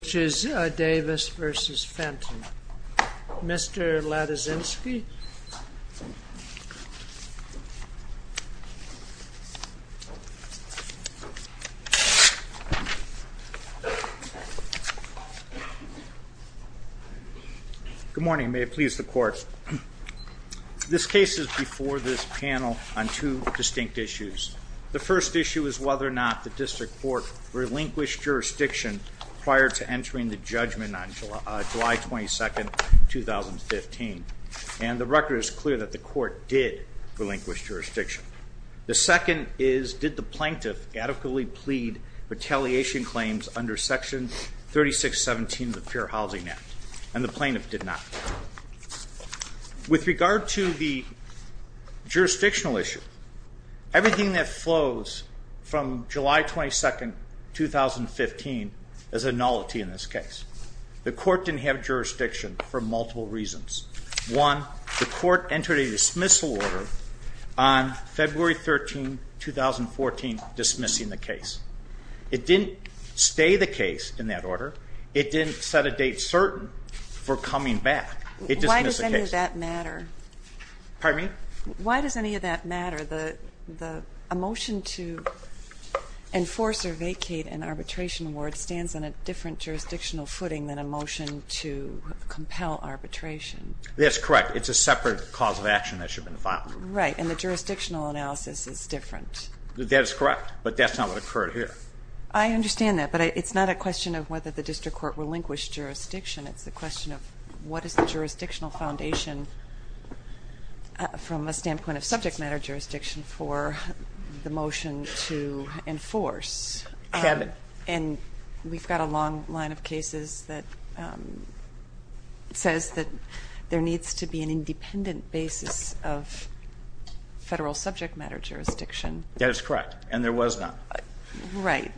which is Davis v. Fenton. Mr. Lataszynski? Good morning. May it please the Court. This case is before this panel on two distinct issues. The first issue is whether or not the District Court relinquished jurisdiction prior to entering the judgment on July 22, 2015. And the record is clear that the Court did relinquish jurisdiction. The second is, did the plaintiff adequately plead retaliation claims under section 3617 of the Fair Housing Act? And the plaintiff did not. With regard to the jurisdictional issue, everything that flows from July 22, 2015 is a nullity in this case. The Court didn't have jurisdiction for multiple reasons. One, the Court entered a dismissal order on February 13, 2014 dismissing the case. It didn't stay the case in that order. It didn't set a date certain for coming back. It dismissed the case. Why does any of that matter? Pardon me? Why does any of that matter? A motion to enforce or vacate an arbitration award stands on a different jurisdictional footing than a motion to compel arbitration. That's correct. It's a separate cause of action that should have been filed. Right. And the jurisdictional analysis is different. That is correct, but that's not what occurred here. I understand that, but it's not a question of whether the district court relinquished jurisdiction. It's a question of what is the jurisdictional foundation from a standpoint of subject matter jurisdiction for the motion to enforce. Kevin. And we've got a long line of cases that says that there needs to be an independent basis of federal subject matter jurisdiction. That is correct, and there was not. Right.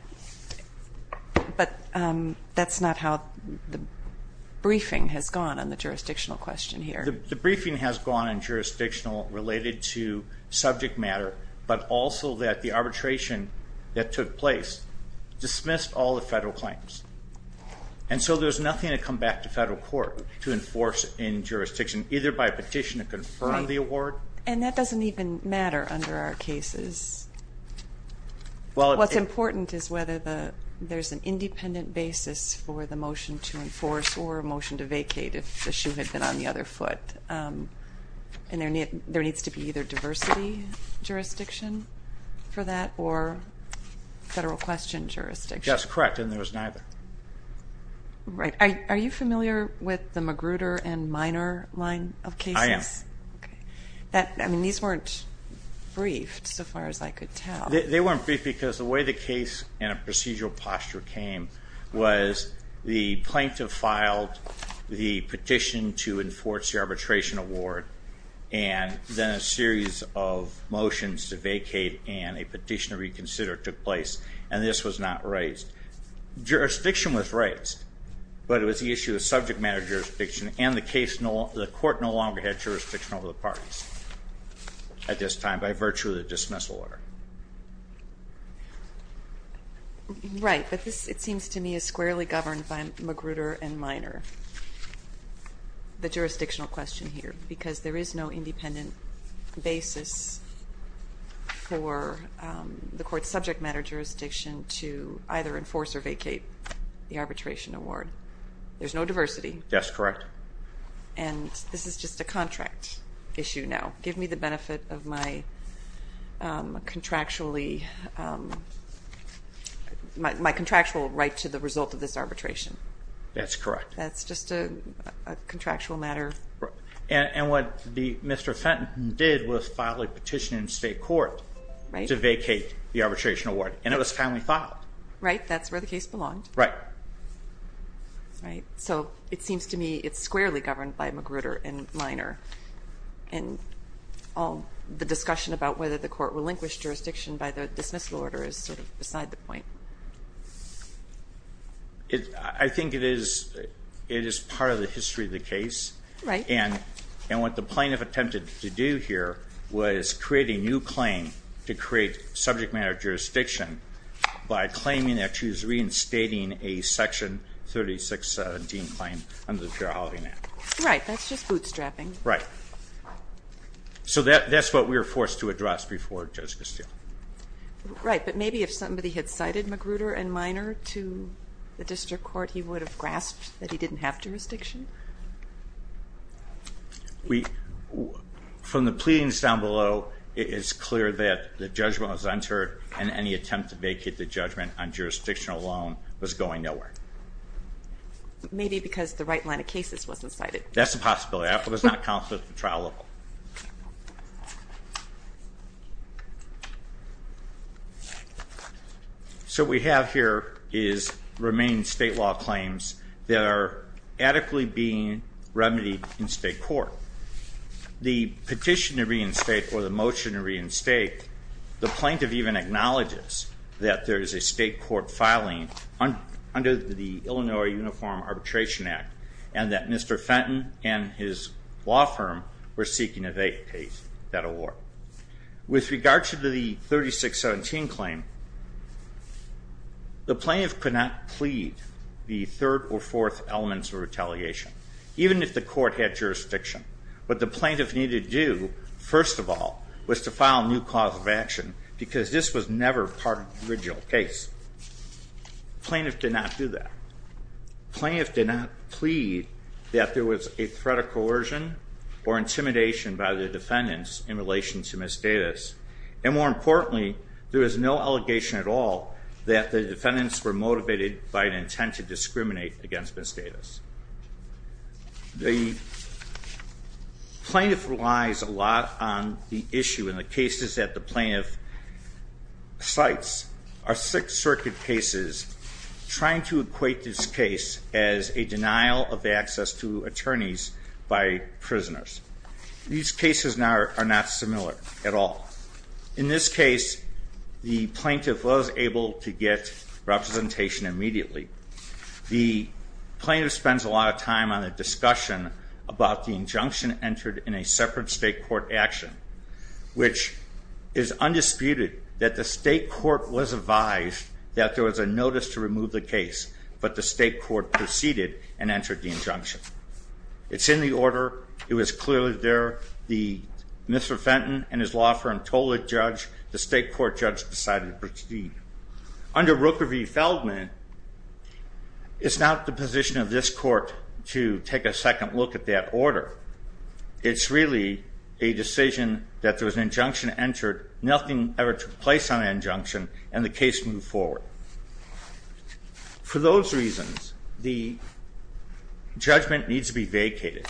But that's not how the briefing has gone on the jurisdictional question here. The briefing has gone on jurisdictional related to subject matter, but also that the arbitration that took place dismissed all the federal claims. And so there's nothing to come back to federal court to enforce in jurisdiction, either by a petition to confirm the award. And that doesn't even matter under our cases. What's important is whether there's an independent basis for the motion to enforce or a motion to vacate if the shoe had been on the other foot. And there needs to be either diversity jurisdiction for that or federal question jurisdiction. That's correct, and there was neither. Right. Are you familiar with the Magruder and Minor line of cases? I am. Okay. I mean, these weren't briefed so far as I could tell. They weren't briefed because the way the case and a procedural posture came was the plaintiff filed the petition to enforce the arbitration award and then a series of motions to vacate and a petition to reconsider took place, and this was not raised. Jurisdiction was raised, but it was the issue of subject matter jurisdiction, and the court no longer had jurisdiction over the parties at this time by virtue of the dismissal order. Right, but this, it seems to me, is squarely governed by Magruder and Minor, the jurisdictional question here, because there is no independent basis for the court's subject matter jurisdiction to either enforce or vacate the arbitration award. There's no diversity. That's correct. And this is just a contract issue now. Give me the benefit of my contractually, my contractual right to the result of this arbitration. That's correct. That's just a contractual matter. And what Mr. Fenton did was file a petition in state court to vacate the arbitration award, and it was kindly filed. Right, that's where the case belonged. Right. Right, so it seems to me it's squarely governed by Magruder and Minor, and the discussion about whether the court relinquished jurisdiction by the dismissal order is sort of beside the point. I think it is part of the history of the case. Right. And what the plaintiff attempted to do here was create a new claim to create subject matter jurisdiction by claiming that she was reinstating a Section 3617 claim under the Fair Housing Act. Right, that's just bootstrapping. Right. So that's what we were forced to address before Judge Castillo. Right, but maybe if somebody had cited Magruder and Minor to the district court, he would have grasped that he didn't have jurisdiction. From the pleadings down below, it is clear that the judgment was entered, and any attempt to vacate the judgment on jurisdiction alone was going nowhere. Maybe because the right line of cases wasn't cited. That's a possibility. That does not account for the trial level. So what we have here is remaining state law claims that are adequately being remedied in state court. The petition to reinstate or the motion to reinstate, the plaintiff even acknowledges that there is a state court filing under the Illinois Uniform Arbitration Act and that Mr. Fenton and his law firm were seeking to vacate that award. With regard to the 3617 claim, the plaintiff could not plead the third or fourth elements of retaliation, even if the court had jurisdiction. What the plaintiff needed to do, first of all, was to file a new cause of action, because this was never part of the original case. The plaintiff did not do that. The plaintiff did not plead that there was a threat of coercion or intimidation by the defendants in relation to Ms. Davis. And more importantly, there is no allegation at all that the defendants were motivated by an intent to discriminate against Ms. Davis. The plaintiff relies a lot on the issue in the cases that the plaintiff cites. Our Sixth Circuit case is trying to equate this case as a denial of access to attorneys by prisoners. These cases are not similar at all. In this case, the plaintiff was able to get representation immediately. The plaintiff spends a lot of time on a discussion about the injunction entered in a separate state court action, which is undisputed that the state court was advised that there was a notice to remove the case, but the state court proceeded and entered the injunction. It's in the order. It was clearly there. Mr. Fenton and his law firm told the judge. The state court judge decided to proceed. Under Rooker v. Feldman, it's not the position of this court to take a second look at that order. It's really a decision that there was an injunction entered, nothing ever took place on the injunction, and the case moved forward. For those reasons, the judgment needs to be vacated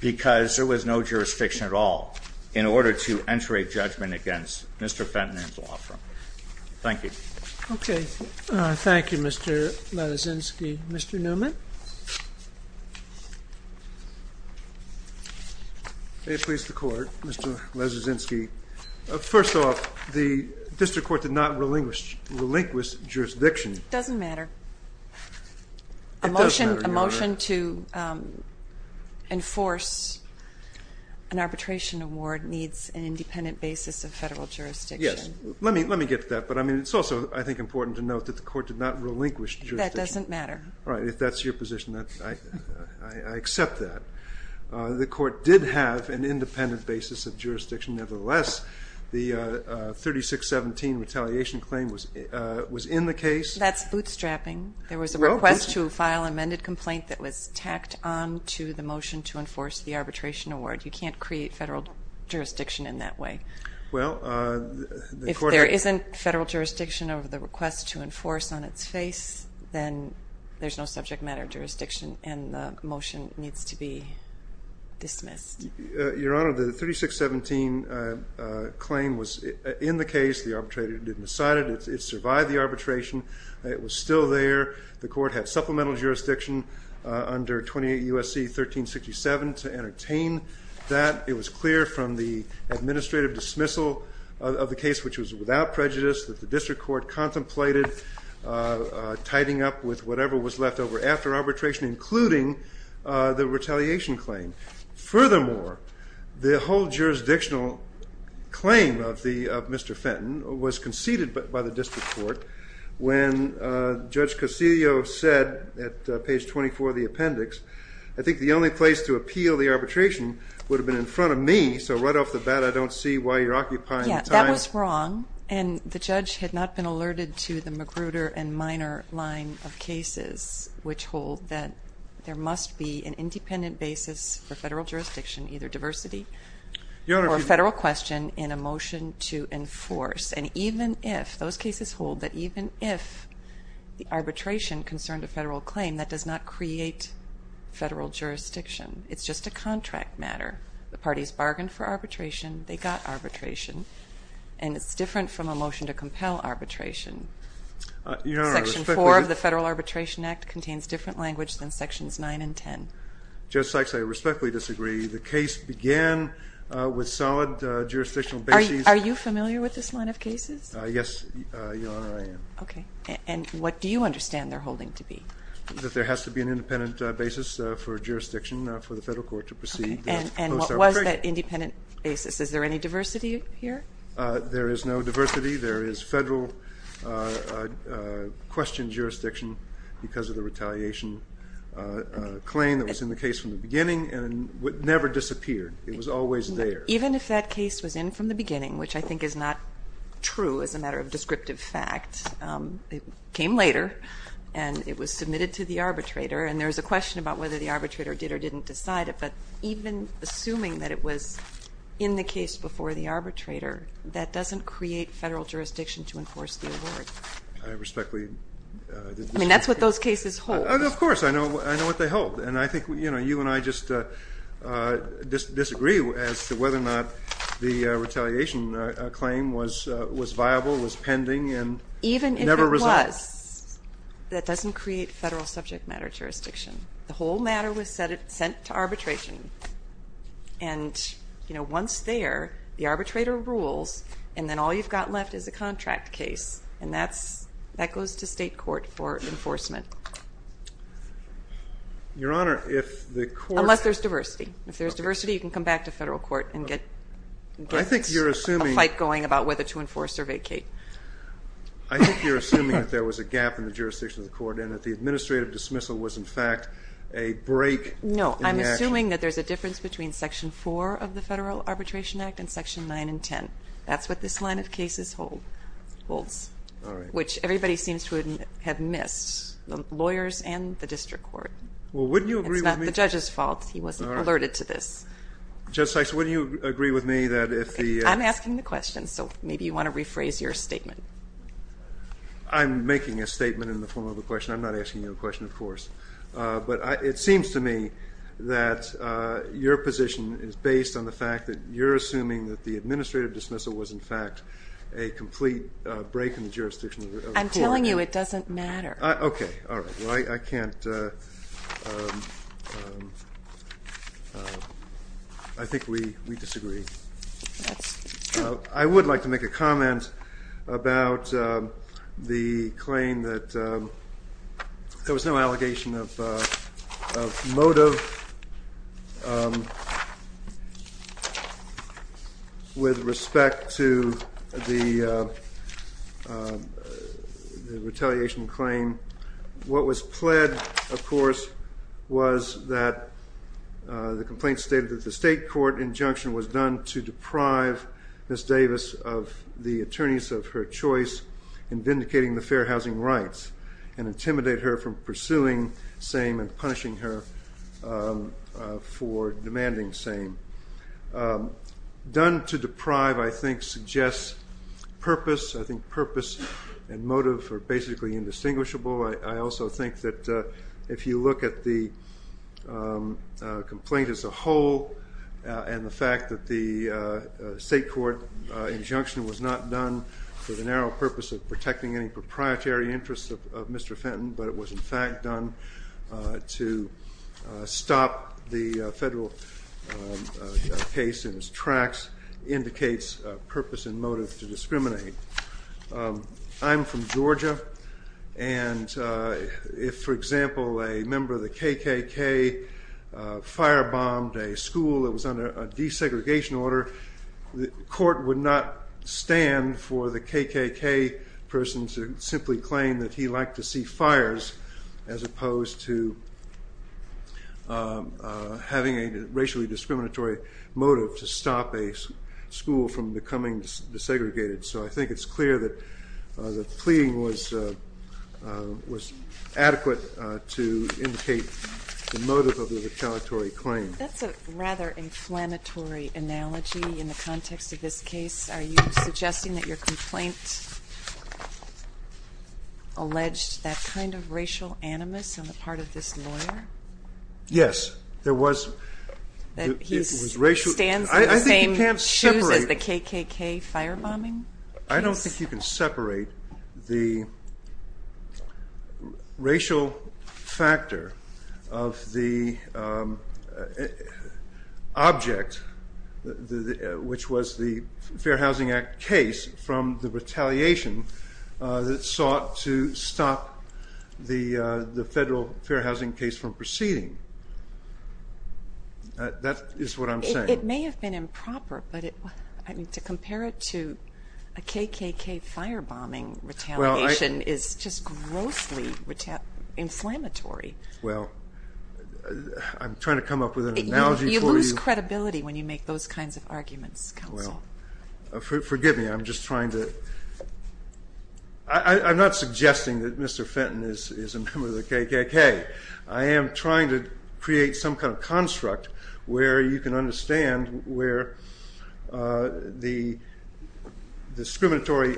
because there was no jurisdiction at all in order to enter a judgment against Mr. Fenton and his law firm. Thank you. Okay. Thank you, Mr. Leszczynski. Mr. Newman? May it please the Court, Mr. Leszczynski. First off, the district court did not relinquish jurisdiction. It doesn't matter. A motion to enforce an arbitration award needs an independent basis of federal jurisdiction. Yes. Let me get to that. But, I mean, it's also, I think, important to note that the court did not relinquish jurisdiction. That doesn't matter. All right. If that's your position, I accept that. The court did have an independent basis of jurisdiction. Nevertheless, the 3617 retaliation claim was in the case. That's bootstrapping. There was a request to file amended complaint that was tacked on to the motion to enforce the arbitration award. You can't create federal jurisdiction in that way. If there isn't federal jurisdiction of the request to enforce on its face, then there's no subject matter jurisdiction and the motion needs to be dismissed. Your Honor, the 3617 claim was in the case. The arbitrator didn't decide it. It survived the arbitration. It was still there. The court had supplemental jurisdiction under 28 U.S.C. 1367 to entertain that. It was clear from the administrative dismissal of the case, which was without prejudice, that the district court contemplated tidying up with whatever was left over after arbitration, including the retaliation claim. Furthermore, the whole jurisdictional claim of Mr. Fenton was conceded by the district court when Judge Castillo said at page 24 of the appendix, I think the only place to appeal the arbitration would have been in front of me, so right off the bat I don't see why you're occupying the time. That was wrong, and the judge had not been alerted to the Magruder and Minor line of cases, which hold that there must be an independent basis for federal jurisdiction, either diversity or federal question, in a motion to enforce. And even if those cases hold that even if the arbitration concerned a federal claim, that does not create federal jurisdiction. It's just a contract matter. The parties bargained for arbitration, they got arbitration, and it's different from a motion to compel arbitration. Section 4 of the Federal Arbitration Act contains different language than sections 9 and 10. Judge Sykes, I respectfully disagree. The case began with solid jurisdictional basis. Are you familiar with this line of cases? Yes, Your Honor, I am. Okay. And what do you understand they're holding to be? That there has to be an independent basis for jurisdiction for the federal court to proceed. Okay. And what was that independent basis? Is there any diversity here? There is no diversity. There is federal question jurisdiction because of the retaliation claim that was in the case from the beginning and would never disappear. It was always there. Even if that case was in from the beginning, which I think is not true as a matter of descriptive fact, it came later and it was submitted to the arbitrator, and there is a question about whether the arbitrator did or didn't decide it. But even assuming that it was in the case before the arbitrator, that doesn't create federal jurisdiction to enforce the award. I respectfully disagree. I mean, that's what those cases hold. Of course, I know what they hold. And I think, you know, you and I just disagree as to whether or not the retaliation claim was viable, was pending, and never resolved. Even if it was, that doesn't create federal subject matter jurisdiction. The whole matter was sent to arbitration. And, you know, once there, the arbitrator rules, and then all you've got left is a contract case, and that goes to state court for enforcement. Your Honor, if the court. Unless there's diversity. If there's diversity, you can come back to federal court and get a fight going about whether to enforce or vacate. I think you're assuming that there was a gap in the jurisdiction of the court and that the administrative dismissal was, in fact, a break in the action. No, I'm assuming that there's a difference between Section 4 of the Federal Arbitration Act and Section 9 and 10. That's what this line of cases holds. All right. Which everybody seems to have missed, the lawyers and the district court. Well, wouldn't you agree with me. It's not the judge's fault. He wasn't alerted to this. Judge Sykes, wouldn't you agree with me that if the. I'm asking the question, so maybe you want to rephrase your statement. I'm making a statement in the form of a question. I'm not asking you a question, of course. But it seems to me that your position is based on the fact that you're assuming that the administrative dismissal was, in fact, a complete break in the jurisdiction of the court. I'm telling you it doesn't matter. Okay. All right. Well, I can't. I think we disagree. That's true. I would like to make a comment about the claim that there was no allegation of motive with respect to the retaliation claim. What was pled, of course, was that the complaint stated that the state court injunction was done to deprive Miss Davis of the attorneys of her choice in vindicating the fair housing rights and intimidate her from pursuing same and punishing her for demanding same. Done to deprive, I think, suggests purpose. I think purpose and motive are basically indistinguishable. I also think that if you look at the complaint as a whole and the fact that the state court injunction was not done for the narrow purpose of protecting any proprietary interests of Mr. Fenton, but it was, in fact, done to stop the federal case in its tracks indicates purpose and motive to discriminate. I'm from Georgia, and if, for example, a member of the KKK firebombed a school that was under a desegregation order, the court would not stand for the KKK person to simply claim that he liked to see fires as opposed to having a racially discriminatory motive to stop a school from becoming desegregated. So I think it's clear that the plea was adequate to indicate the motive of the retaliatory claim. That's a rather inflammatory analogy in the context of this case. Are you suggesting that your complaint alleged that kind of racial animus on the part of this lawyer? Yes, there was. He stands in the same shoes as the KKK firebombing case? That is what I'm saying. It may have been improper, but to compare it to a KKK firebombing retaliation is just grossly inflammatory. Well, I'm trying to come up with an analogy for you. You lose credibility when you make those kinds of arguments, counsel. Well, forgive me. I'm just trying to – I'm not suggesting that Mr. Fenton is a member of the KKK. I am trying to create some kind of construct where you can understand where the discriminatory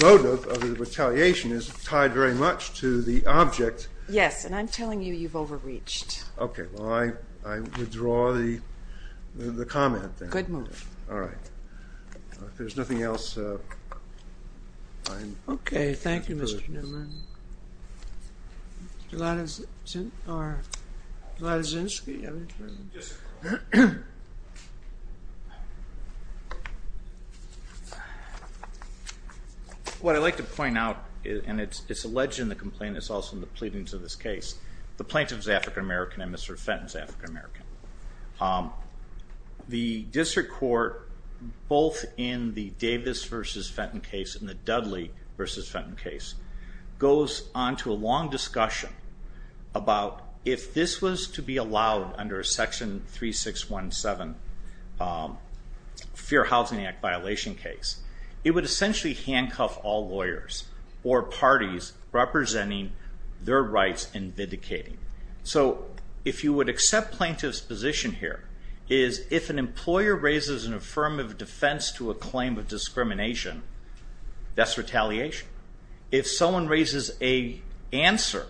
motive of the retaliation is tied very much to the object. Yes, and I'm telling you you've overreached. Okay. Well, I withdraw the comment. Good move. All right. If there's nothing else, I'm – Okay. Thank you, Mr. Newman. Gladys Zinske? Yes. What I'd like to point out, and it's alleged in the complaint, it's also in the pleadings of this case, the plaintiff is African-American and Mr. Fenton is African-American. The district court, both in the Davis v. Fenton case and the Dudley v. Fenton case, goes on to a long discussion about if this was to be allowed under a Section 3617 Fair Housing Act violation case, it would essentially handcuff all lawyers or parties representing their rights in vindicating. So if you would accept plaintiff's position here is if an employer raises an affirmative defense to a claim of discrimination, that's retaliation. If someone raises an answer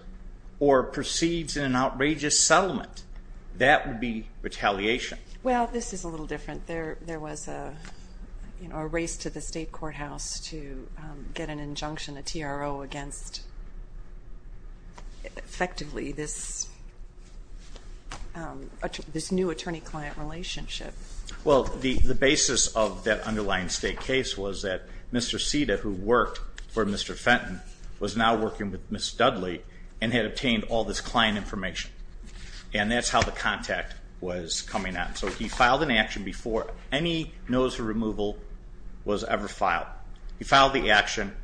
or proceeds in an outrageous settlement, that would be retaliation. Well, this is a little different. There was a race to the state courthouse to get an injunction, a TRO, against effectively this new attorney-client relationship. Well, the basis of that underlying state case was that Mr. Ceda, who worked for Mr. Fenton, was now working with Ms. Dudley and had obtained all this client information. And that's how the contact was coming out. So he filed an action before any notice of removal was ever filed. He filed the action,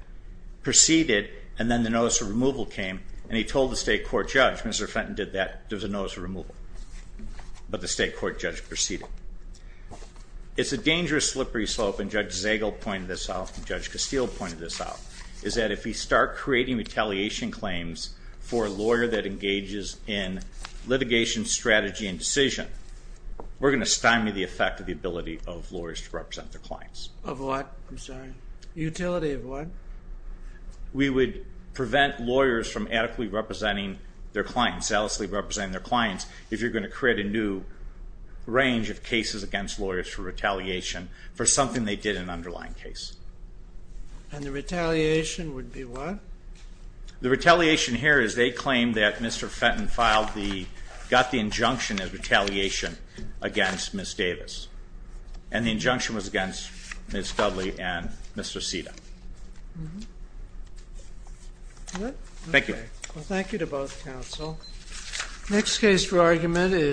proceeded, and then the notice of removal came. And he told the state court judge, Mr. Fenton did that, there was a notice of removal. But the state court judge proceeded. It's a dangerous slippery slope, and Judge Zagel pointed this out and Judge Castile pointed this out, is that if we start creating retaliation claims for a lawyer that engages in litigation strategy and decision, we're going to stymie the effect of the ability of lawyers to represent their clients. Of what? I'm sorry. Utility of what? We would prevent lawyers from adequately representing their clients, salaciously representing their clients, if you're going to create a new range of cases against lawyers for retaliation for something they did in an underlying case. And the retaliation would be what? The retaliation here is they claim that Mr. Fenton got the injunction of retaliation against Ms. Davis. And the injunction was against Ms. Dudley and Mr. Sita. Thank you. Thank you to both counsel. Next case for argument is...